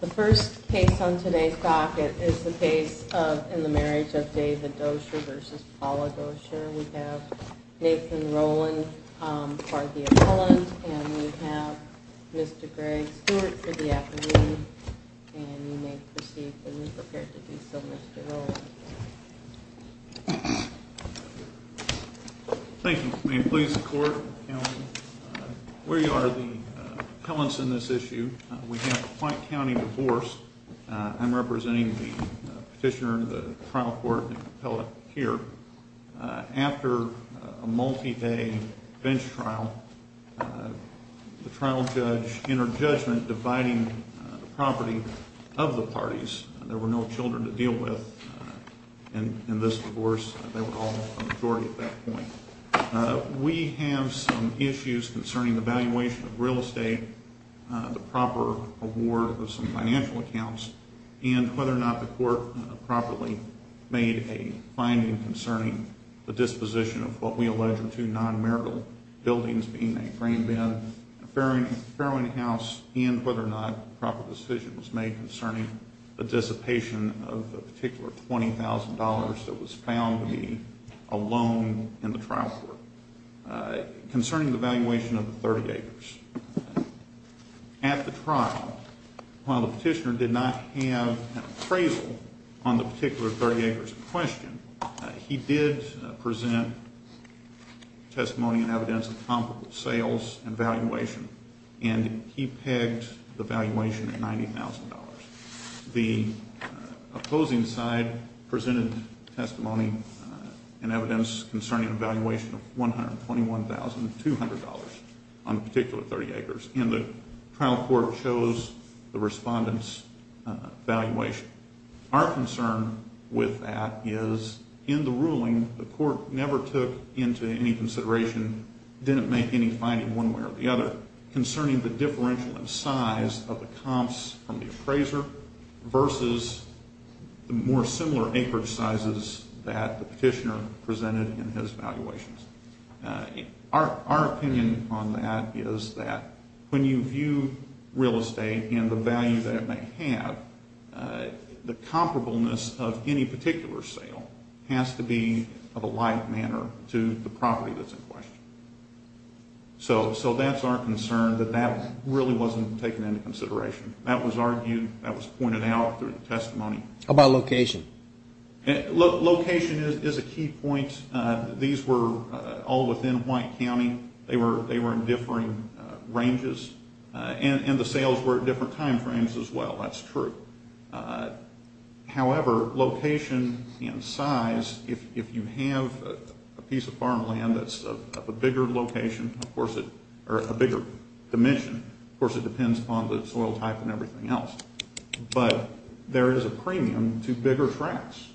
The first case on today's docket is the case of In the Marriage of David Dosher versus Paula Dosher. We have Nathan Rowland for the appellant and we have Mr. Greg Stewart for the affidavit and you may proceed when you're prepared to do so Mr. Rowland. Thank you. May it please the court. We are the appellants in this issue. We have a Point County divorce. I'm representing the petitioner, the trial court and the appellant here. After a multi-day bench trial, the trial judge entered judgment dividing the property of the parties. There were no children to deal with in this divorce. They were all a majority at that point. We have some issues concerning the valuation of real estate, the proper award of some financial accounts and whether or not the court properly made a finding concerning the disposition of what we allege are two non-marital buildings being a grain bin, a farrowing house and whether or not proper decision was made concerning the dissipation of the particular $20,000 that was found to be a loan in the trial court. Concerning the valuation of the 30 acres. At the trial, while the petitioner did not have an appraisal on the particular 30 acres in question, he did present testimony and evidence of comparable sales and valuation and he pegged the valuation at $90,000. The opposing side presented testimony and evidence concerning a valuation of $121,200 on the particular 30 acres and the trial court chose the respondent's valuation. Our concern with that is in the ruling, the court never took into any consideration, didn't make any finding one way or the other concerning the differential in size of the comps from the appraiser versus the more similar acreage sizes that the petitioner presented in his valuations. Our opinion on that is that when you view real estate and the value that it may have, the comparableness of any particular sale has to be of a light manner to the property that's in question. So that's our concern that that really wasn't taken into consideration. That was argued, that was pointed out through the testimony. How about location? Location is a key point. These were all within White County. They were in differing ranges and the sales were at different time frames as well. That's true. However, location and size, if you have a piece of farmland that's of a bigger location, of course, or a bigger dimension, of course, it depends upon the soil type and everything else. But there is a premium to bigger tracts.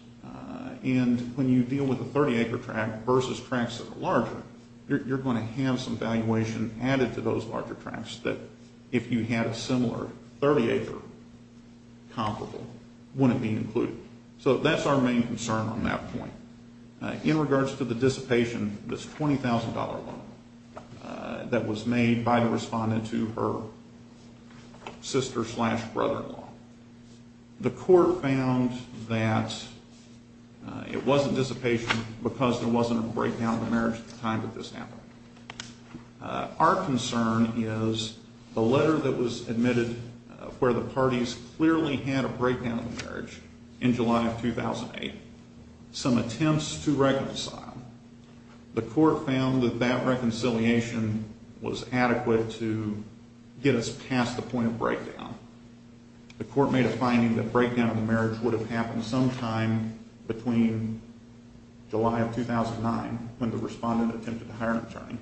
And when you deal with a 30-acre tract versus tracts that are larger, you're going to have some valuation added to those larger tracts that if you had a similar 30-acre comparable, wouldn't be included. So that's our main concern on that point. In regards to the dissipation, this $20,000 loan that was made by the respondent to her sister-slash-brother-in-law, the court found that it wasn't dissipation because there wasn't a breakdown in the marriage at the time that this happened. Our concern is the letter that was admitted where the parties clearly had a breakdown in the marriage in July of 2008, some attempts to reconcile. The court found that that reconciliation was adequate to get us past the point of breakdown. The court made a finding that breakdown in the marriage would have happened sometime between July of 2009, when the respondent attempted to hire an attorney,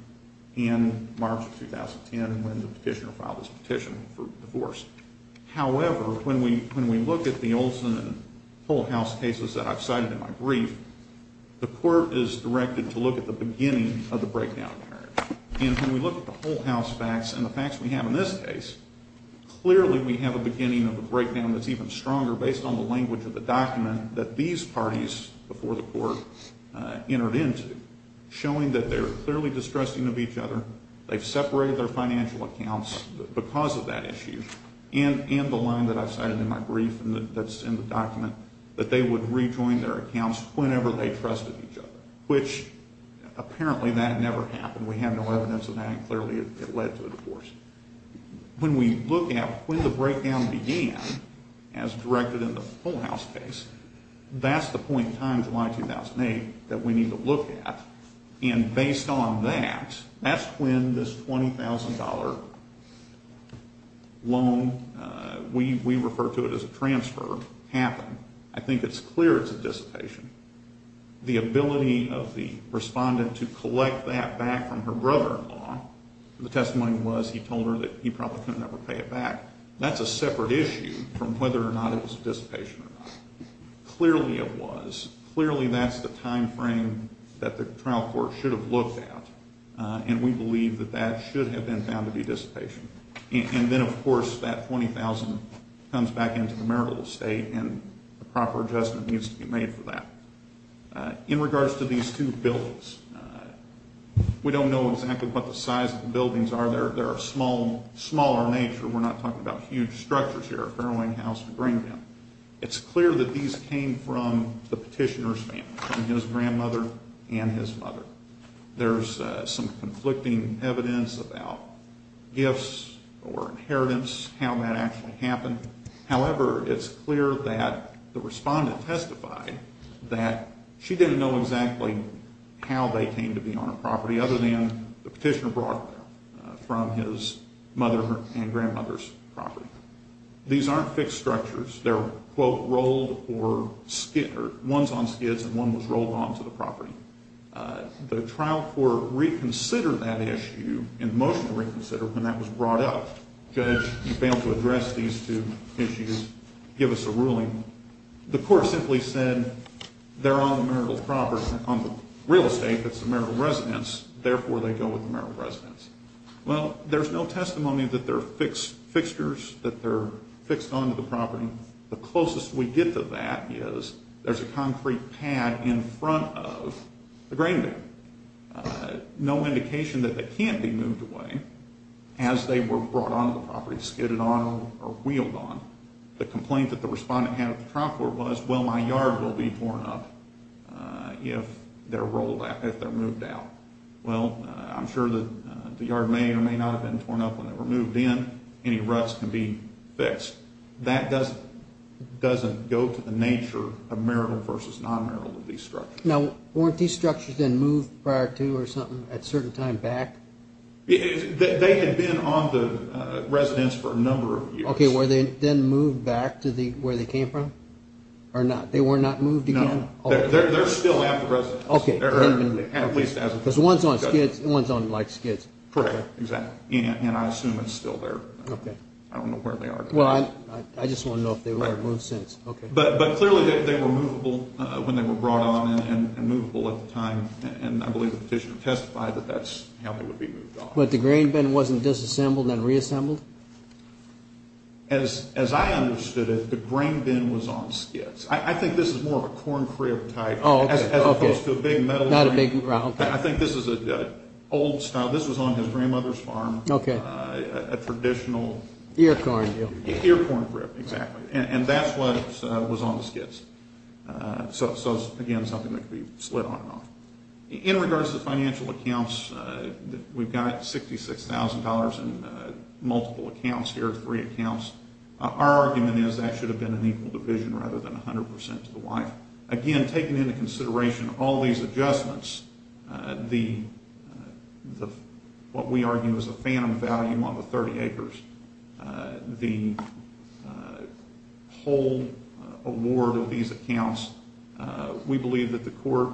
and March of 2010, when the petitioner filed his petition for divorce. However, when we look at the Olson and Holthaus cases that I've cited in my brief, the court is directed to look at the beginning of the breakdown in marriage. And when we look at the Holthaus facts and the facts we have in this case, clearly we have a beginning of a breakdown that's even stronger based on the language of the document that these parties before the court entered into, showing that they're clearly distrusting of each other, they've separated their financial accounts because of that issue, and the line that I've cited in my brief that's in the document, that they would rejoin their accounts whenever they trusted each other, which apparently that never happened. We have no evidence of that, and clearly it led to a divorce. When we look at when the breakdown began, as directed in the Holthaus case, that's the point in time, July 2008, that we need to look at. And based on that, that's when this $20,000 loan, we refer to it as a transfer, happened. I think it's clear it's a dissipation. The ability of the respondent to collect that back from her brother-in-law, the testimony was he told her that he probably couldn't ever pay it back, that's a separate issue from whether or not it was dissipation or not. Clearly it was. Clearly that's the timeframe that the trial court should have looked at, and we believe that that should have been found to be dissipation. And then, of course, that $20,000 comes back into the marital estate, and a proper adjustment needs to be made for that. In regards to these two buildings, we don't know exactly what the size of the buildings are. They're of smaller nature. We're not talking about huge structures here, a caroling house, a green room. It's clear that these came from the petitioner's family, from his grandmother and his mother. There's some conflicting evidence about gifts or inheritance, how that actually happened. However, it's clear that the respondent testified that she didn't know exactly how they came to be on a property other than the petitioner brought them from his mother and grandmother's property. These aren't fixed structures. They're, quote, rolled or skids, or one's on skids and one was rolled onto the property. The trial court reconsidered that issue, in motion to reconsider, when that was brought up. Judge, you failed to address these two issues, give us a ruling. The court simply said they're on the marital property, on the real estate that's the marital residence, therefore they go with the marital residence. Well, there's no testimony that they're fixed fixtures, that they're fixed onto the property. The closest we get to that is there's a concrete pad in front of the green room. No indication that they can't be moved away as they were brought onto the property, skidded on or wheeled on. The complaint that the respondent had at the trial court was, well, my yard will be torn up if they're moved out. Well, I'm sure that the yard may or may not have been torn up when they were moved in. Any ruts can be fixed. That doesn't go to the nature of marital versus non-marital of these structures. Now, weren't these structures then moved prior to or something at a certain time back? They had been on the residence for a number of years. Okay, were they then moved back to where they came from or not? They were not moved again? No, they're still at the residence. Okay. At least as of today. Because one's on skids and one's on skids. Correct, exactly. And I assume it's still there. Okay. I don't know where they are today. Well, I just want to know if they were moved since. But clearly they were movable when they were brought on and movable at the time. And I believe the petitioner testified that that's how they would be moved on. But the grain bin wasn't disassembled and reassembled? As I understood it, the grain bin was on skids. I think this is more of a corn crib type. Oh, okay. As opposed to a big metal. Not a big metal. I think this is an old style. This was on his grandmother's farm. Okay. A traditional. Ear corn. Ear corn crib, exactly. And that's what was on the skids. So, again, something that could be split on and off. In regards to financial accounts, we've got $66,000 in multiple accounts here, three accounts. Our argument is that should have been an equal division rather than 100% to the wife. Again, taking into consideration all these adjustments, what we argue is a phantom value on the 30 acres. The whole award of these accounts, we believe that the court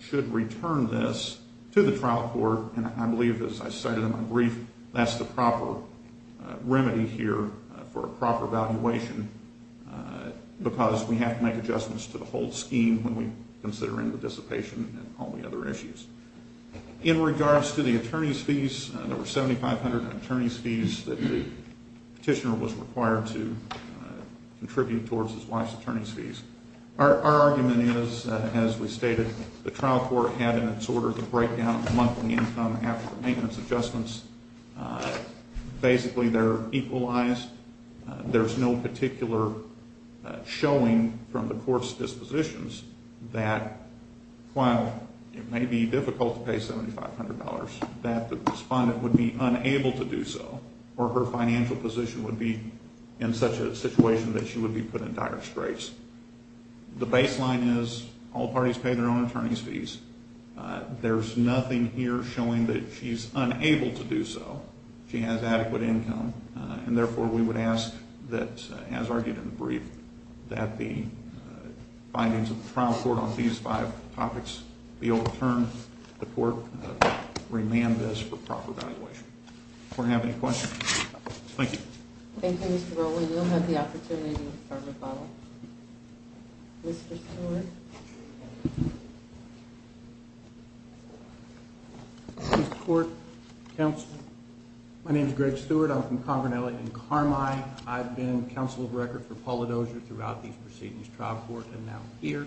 should return this to the trial court. And I believe, as I cited in my brief, that's the proper remedy here for a proper valuation because we have to make adjustments to the whole scheme when we consider in the dissipation and all the other issues. In regards to the attorney's fees, there were 7,500 attorney's fees that the petitioner was required to contribute towards his wife's attorney's fees. Our argument is, as we stated, the trial court had in its order to break down the monthly income after the maintenance adjustments. Basically, they're equalized. There's no particular showing from the court's dispositions that while it may be difficult to pay $7,500, that the respondent would be unable to do so or her financial position would be in such a situation that she would be put in dire straits. The baseline is all parties pay their own attorney's fees. There's nothing here showing that she's unable to do so. She has adequate income. And therefore, we would ask that, as argued in the brief, that the findings of the trial court on these five topics be overturned. The court remand this for proper valuation. If we have any questions. Thank you. Thank you, Mr. Rowley. You'll have the opportunity to further follow. Mr. Stewart. Mr. Stewart. Counsel. My name is Greg Stewart. I'm from Congranelli in Carmine. I've been counsel of record for Paula Dozier throughout these proceedings, trial court, and now here.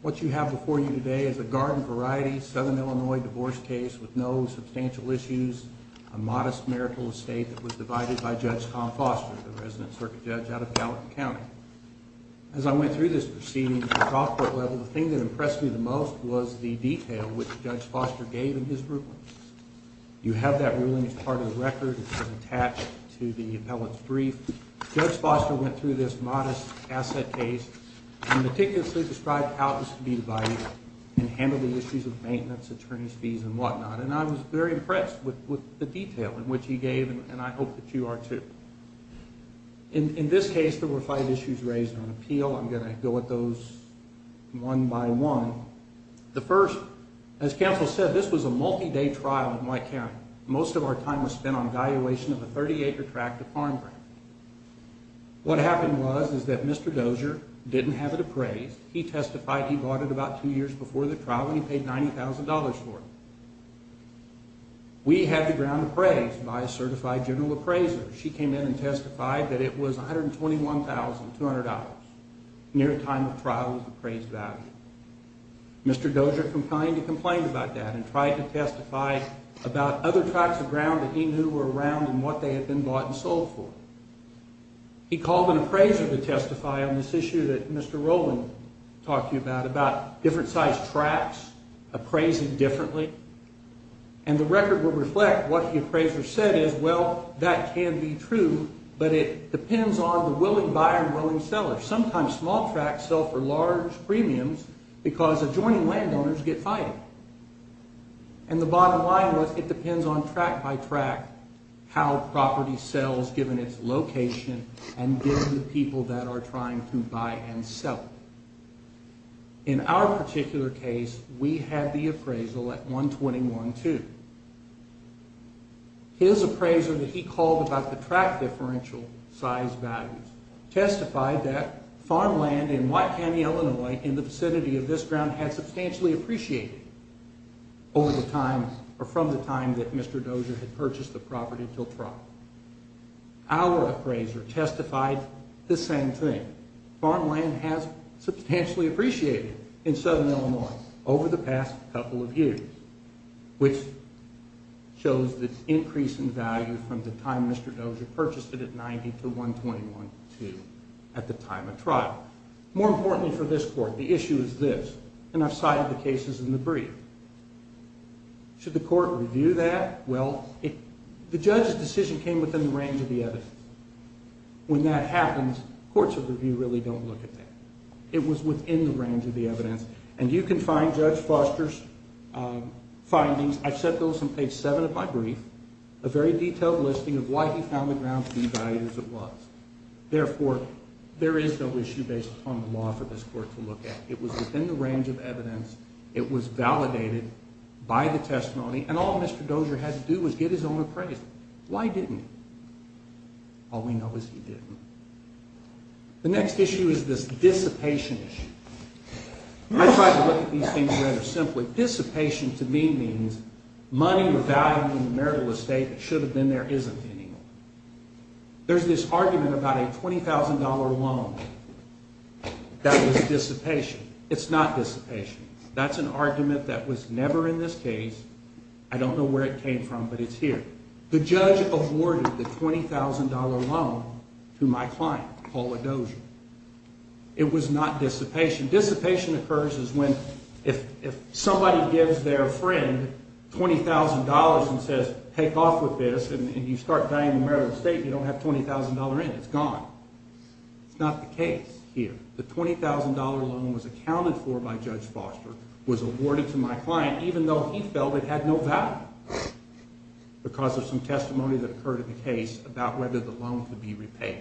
What you have before you today is a garden variety Southern Illinois divorce case with no substantial issues, a modest marital estate that was divided by Judge Tom Foster, the resident circuit judge out of Gallatin County. As I went through this proceeding at the trial court level, the thing that impressed me the most was the detail which Judge Foster gave in his ruling. You have that ruling as part of the record. It's attached to the appellate's brief. Judge Foster went through this modest asset case and meticulously described how it was to be divided and handled the issues of maintenance, attorney's fees, and whatnot. And I was very impressed with the detail in which he gave, and I hope that you are, too. In this case, there were five issues raised on appeal. I'm going to go at those one by one. The first, as counsel said, this was a multi-day trial in my county. Most of our time was spent on evaluation of a 30-acre tract of farmland. What happened was is that Mr. Dozier didn't have it appraised. He testified he bought it about two years before the trial, and he paid $90,000 for it. We had the ground appraised by a certified general appraiser. She came in and testified that it was $121,200 near the time the trial was appraised value. Mr. Dozier complained about that and tried to testify about other tracts of ground that he knew were around and what they had been bought and sold for. He called an appraiser to testify on this issue that Mr. Rowland talked to you about, about different-sized tracts appraised differently. And the record would reflect what the appraiser said is, well, that can be true, but it depends on the willing buyer and willing seller. Sometimes small tracts sell for large premiums because adjoining landowners get fired. And the bottom line was it depends on tract by tract how property sells given its location and given the people that are trying to buy and sell. In our particular case, we had the appraisal at $121,200. His appraiser that he called about the tract differential size values testified that farmland in White County, Illinois, in the vicinity of this ground, had substantially appreciated over the time or from the time that Mr. Dozier had purchased the property until trial. Our appraiser testified the same thing. Farmland has substantially appreciated in southern Illinois over the past couple of years, which shows the increase in value from the time Mr. Dozier purchased it at $90,000 to $121,200 at the time of trial. More importantly for this court, the issue is this, and I've cited the cases in the brief. Should the court review that? Well, the judge's decision came within the range of the evidence. When that happens, courts of review really don't look at that. It was within the range of the evidence, and you can find Judge Foster's findings. I've set those on page 7 of my brief, a very detailed listing of why he found the ground to be valued as it was. Therefore, there is no issue based upon the law for this court to look at. It was within the range of evidence. It was validated by the testimony, and all Mr. Dozier had to do was get his own appraiser. Why didn't he? All we know is he didn't. The next issue is this dissipation issue. I tried to look at these things rather simply. Dissipation to me means money or value in the marital estate that should have been there isn't anymore. There's this argument about a $20,000 loan that was dissipation. It's not dissipation. That's an argument that was never in this case. I don't know where it came from, but it's here. The judge awarded the $20,000 loan to my client, Paula Dozier. It was not dissipation. Dissipation occurs is when if somebody gives their friend $20,000 and says, take off with this and you start buying the marital estate and you don't have $20,000 in, it's gone. It's not the case here. The $20,000 loan was accounted for by Judge Foster, was awarded to my client, even though he felt it had no value because of some testimony that occurred in the case about whether the loan could be repaid.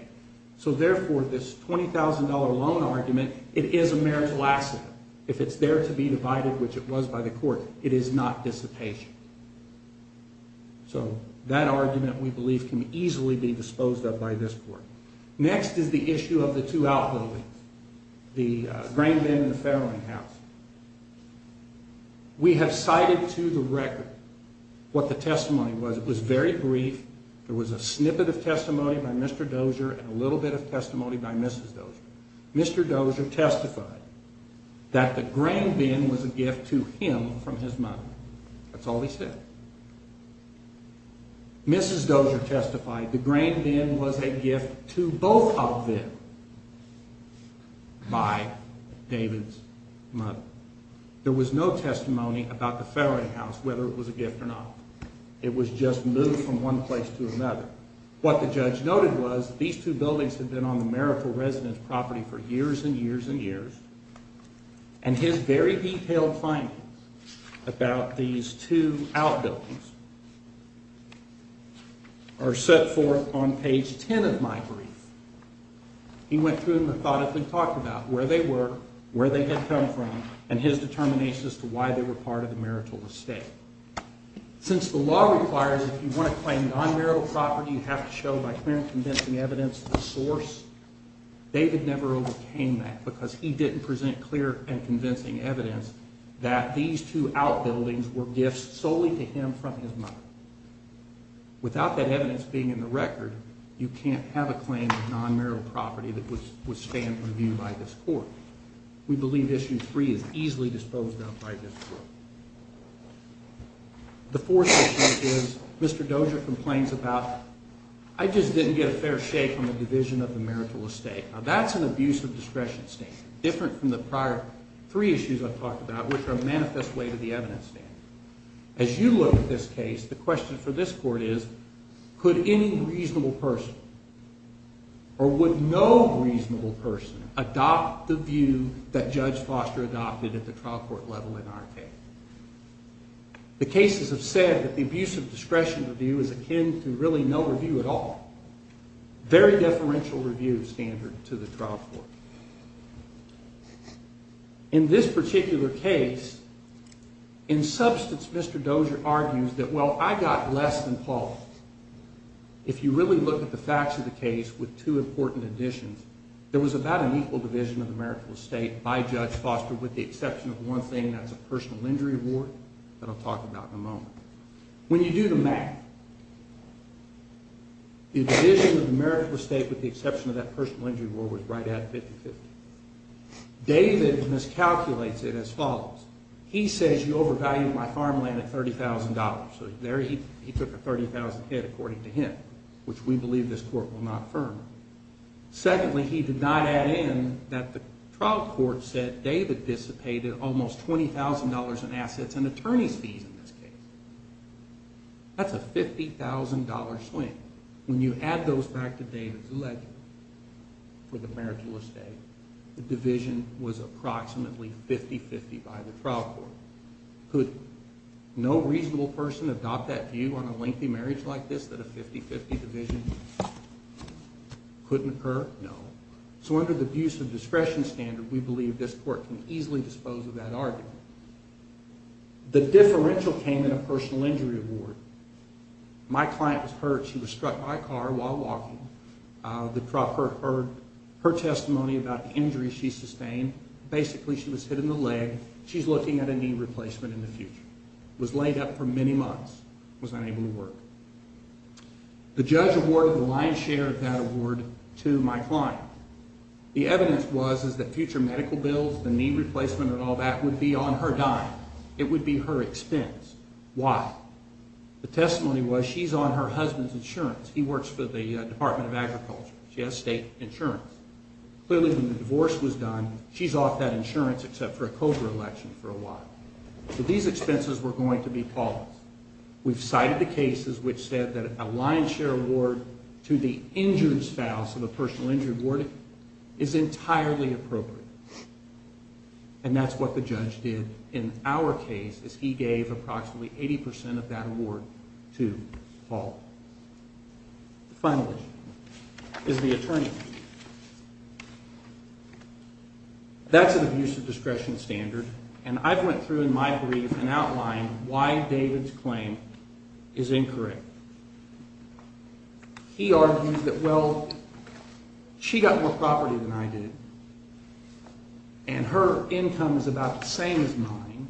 So therefore, this $20,000 loan argument, it is a marital asset. If it's there to be divided, which it was by the court, it is not dissipation. So that argument, we believe, can easily be disposed of by this court. Next is the issue of the two outbuildings, the grain bin and the family house. We have cited to the record what the testimony was. It was very brief. There was a snippet of testimony by Mr. Dozier and a little bit of testimony by Mrs. Dozier. Mr. Dozier testified that the grain bin was a gift to him from his mother. That's all he said. Mrs. Dozier testified the grain bin was a gift to both of them by David's mother. There was no testimony about the family house, whether it was a gift or not. It was just moved from one place to another. What the judge noted was that these two buildings had been on the marital residence property for years and years and years, and his very detailed findings about these two outbuildings are set forth on page 10 of my brief. He went through them and thought up and talked about where they were, where they had come from, and his determination as to why they were part of the marital estate. Since the law requires if you want to claim non-marital property, you have to show by clear and convincing evidence the source, David never overcame that because he didn't present clear and convincing evidence that these two outbuildings were gifts solely to him from his mother. Without that evidence being in the record, you can't have a claim of non-marital property that would stand reviewed by this court. We believe Issue 3 is easily disposed of by this court. The fourth issue is Mr. Dozier complains about, I just didn't get a fair shake on the division of the marital estate. Now that's an abuse of discretion standard, different from the prior three issues I've talked about which are a manifest way to the evidence standard. As you look at this case, the question for this court is, could any reasonable person or would no reasonable person adopt the view that Judge Foster adopted at the trial court level in our case? The cases have said that the abuse of discretion review is akin to really no review at all, very deferential review standard to the trial court. In this particular case, in substance, Mr. Dozier argues that, well, I got less than Paul. If you really look at the facts of the case with two important additions, there was about an equal division of the marital estate by Judge Foster with the exception of one thing, that's a personal injury award that I'll talk about in a moment. When you do the math, the division of the marital estate with the exception of that personal injury award was right at 50-50. David miscalculates it as follows. He says you overvalued my farmland at $30,000. So there he took a $30,000 hit according to him, which we believe this court will not affirm. Secondly, he did not add in that the trial court said David dissipated almost $20,000 in assets and attorney's fees in this case. That's a $50,000 swing. When you add those back to David's alleged for the marital estate, the division was approximately 50-50 by the trial court. Could no reasonable person adopt that view on a lengthy marriage like this, that a 50-50 division couldn't occur? No. So under the abuse of discretion standard, we believe this court can easily dispose of that argument. The differential came in a personal injury award. My client was hurt. She was struck by a car while walking. The trial court heard her testimony about the injury she sustained. Basically, she was hit in the leg. She's looking at a knee replacement in the future. Was laid up for many months. Was unable to work. The judge awarded the lion's share of that award to my client. The evidence was that future medical bills, the knee replacement and all that would be on her dime. It would be her expense. Why? The testimony was she's on her husband's insurance. He works for the Department of Agriculture. She has state insurance. Clearly, when the divorce was done, she's off that insurance except for a COBRA election for a while. So these expenses were going to be Paul's. We've cited the cases which said that a lion's share award to the injured spouse of a personal injury warden is entirely appropriate. And that's what the judge did in our case, is he gave approximately 80% of that award to Paul. The final issue is the attorney. That's an abusive discretion standard. And I've went through in my brief and outlined why David's claim is incorrect. He argues that, well, she got more property than I did. And her income is about the same as mine.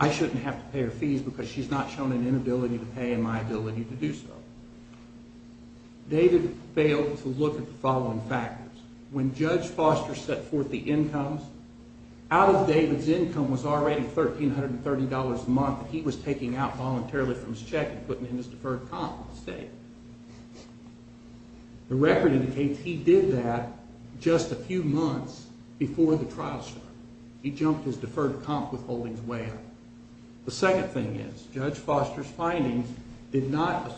I shouldn't have to pay her fees because she's not shown an inability to pay and my ability to do so. David failed to look at the following factors. When Judge Foster set forth the incomes, out of David's income was already $1,330 a month that he was taking out voluntarily from his check and putting it in his deferred comp instead. The record indicates he did that just a few months before the trial started. He jumped his deferred comp withholding way up. The second thing is Judge Foster's findings did not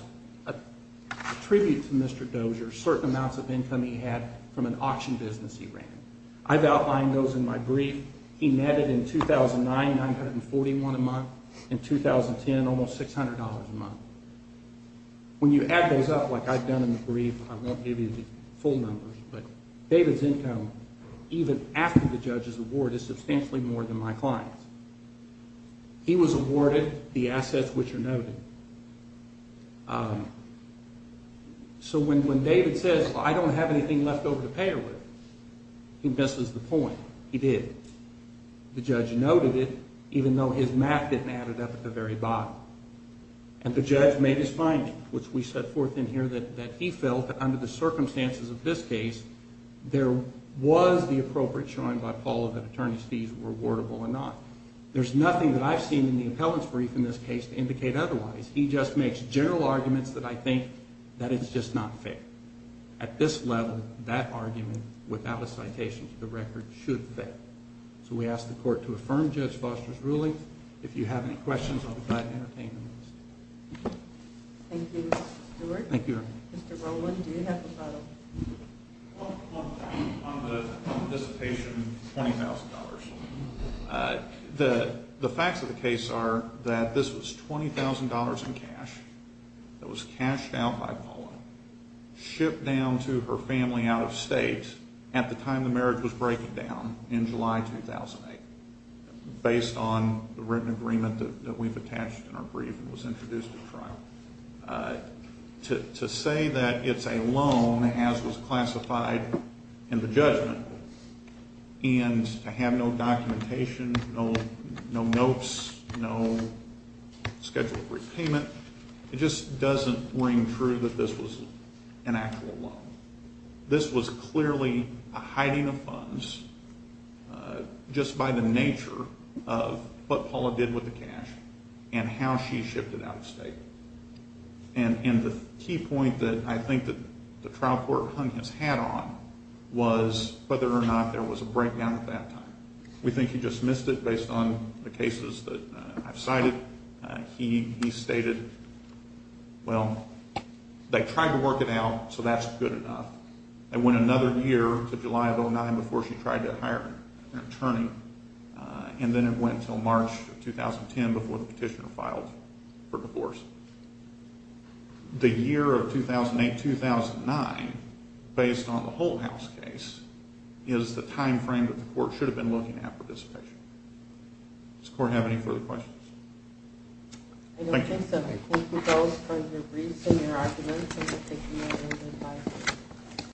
attribute to Mr. Dozier certain amounts of income he had from an auction business he ran. I've outlined those in my brief. He netted in 2009, $941 a month. In 2010, almost $600 a month. When you add those up like I've done in the brief, I won't give you the full numbers, but David's income, even after the judge's award, is substantially more than my client's. He was awarded the assets which are noted. So when David says, I don't have anything left over to pay her with, he misses the point. He did. The judge noted it, even though his math didn't add it up at the very bottom. And the judge made his finding, which we set forth in here that he felt that under the circumstances of this case, there was the appropriate showing by Paul that attorney's fees were awardable or not. There's nothing that I've seen in the appellant's brief in this case to indicate otherwise. He just makes general arguments that I think that it's just not fair. At this level, that argument, without a citation to the record, should fail. If you have any questions, I'll be glad to entertain them. Thank you, Mr. Stewart. Mr. Rowland, do you have a follow-up? On the anticipation of $20,000. The facts of the case are that this was $20,000 in cash that was cashed out by Paula, shipped down to her family out of state at the time the marriage was breaking down in July 2008, based on the written agreement that we've attached in our brief and was introduced at trial. To say that it's a loan, as was classified in the judgment, and to have no documentation, no notes, no scheduled repayment, it just doesn't ring true that this was an actual loan. This was clearly a hiding of funds just by the nature of what Paula did with the cash and how she shipped it out of state. And the key point that I think that the trial court hung its hat on was whether or not there was a breakdown at that time. We think he dismissed it based on the cases that I've cited. He stated, well, they tried to work it out, so that's good enough. It went another year to July of 2009 before she tried to hire an attorney, and then it went until March of 2010 before the petitioner filed for divorce. The year of 2008-2009, based on the whole house case, is the time frame that the court should have been looking at for dissipation. Does the court have any further questions? Thank you.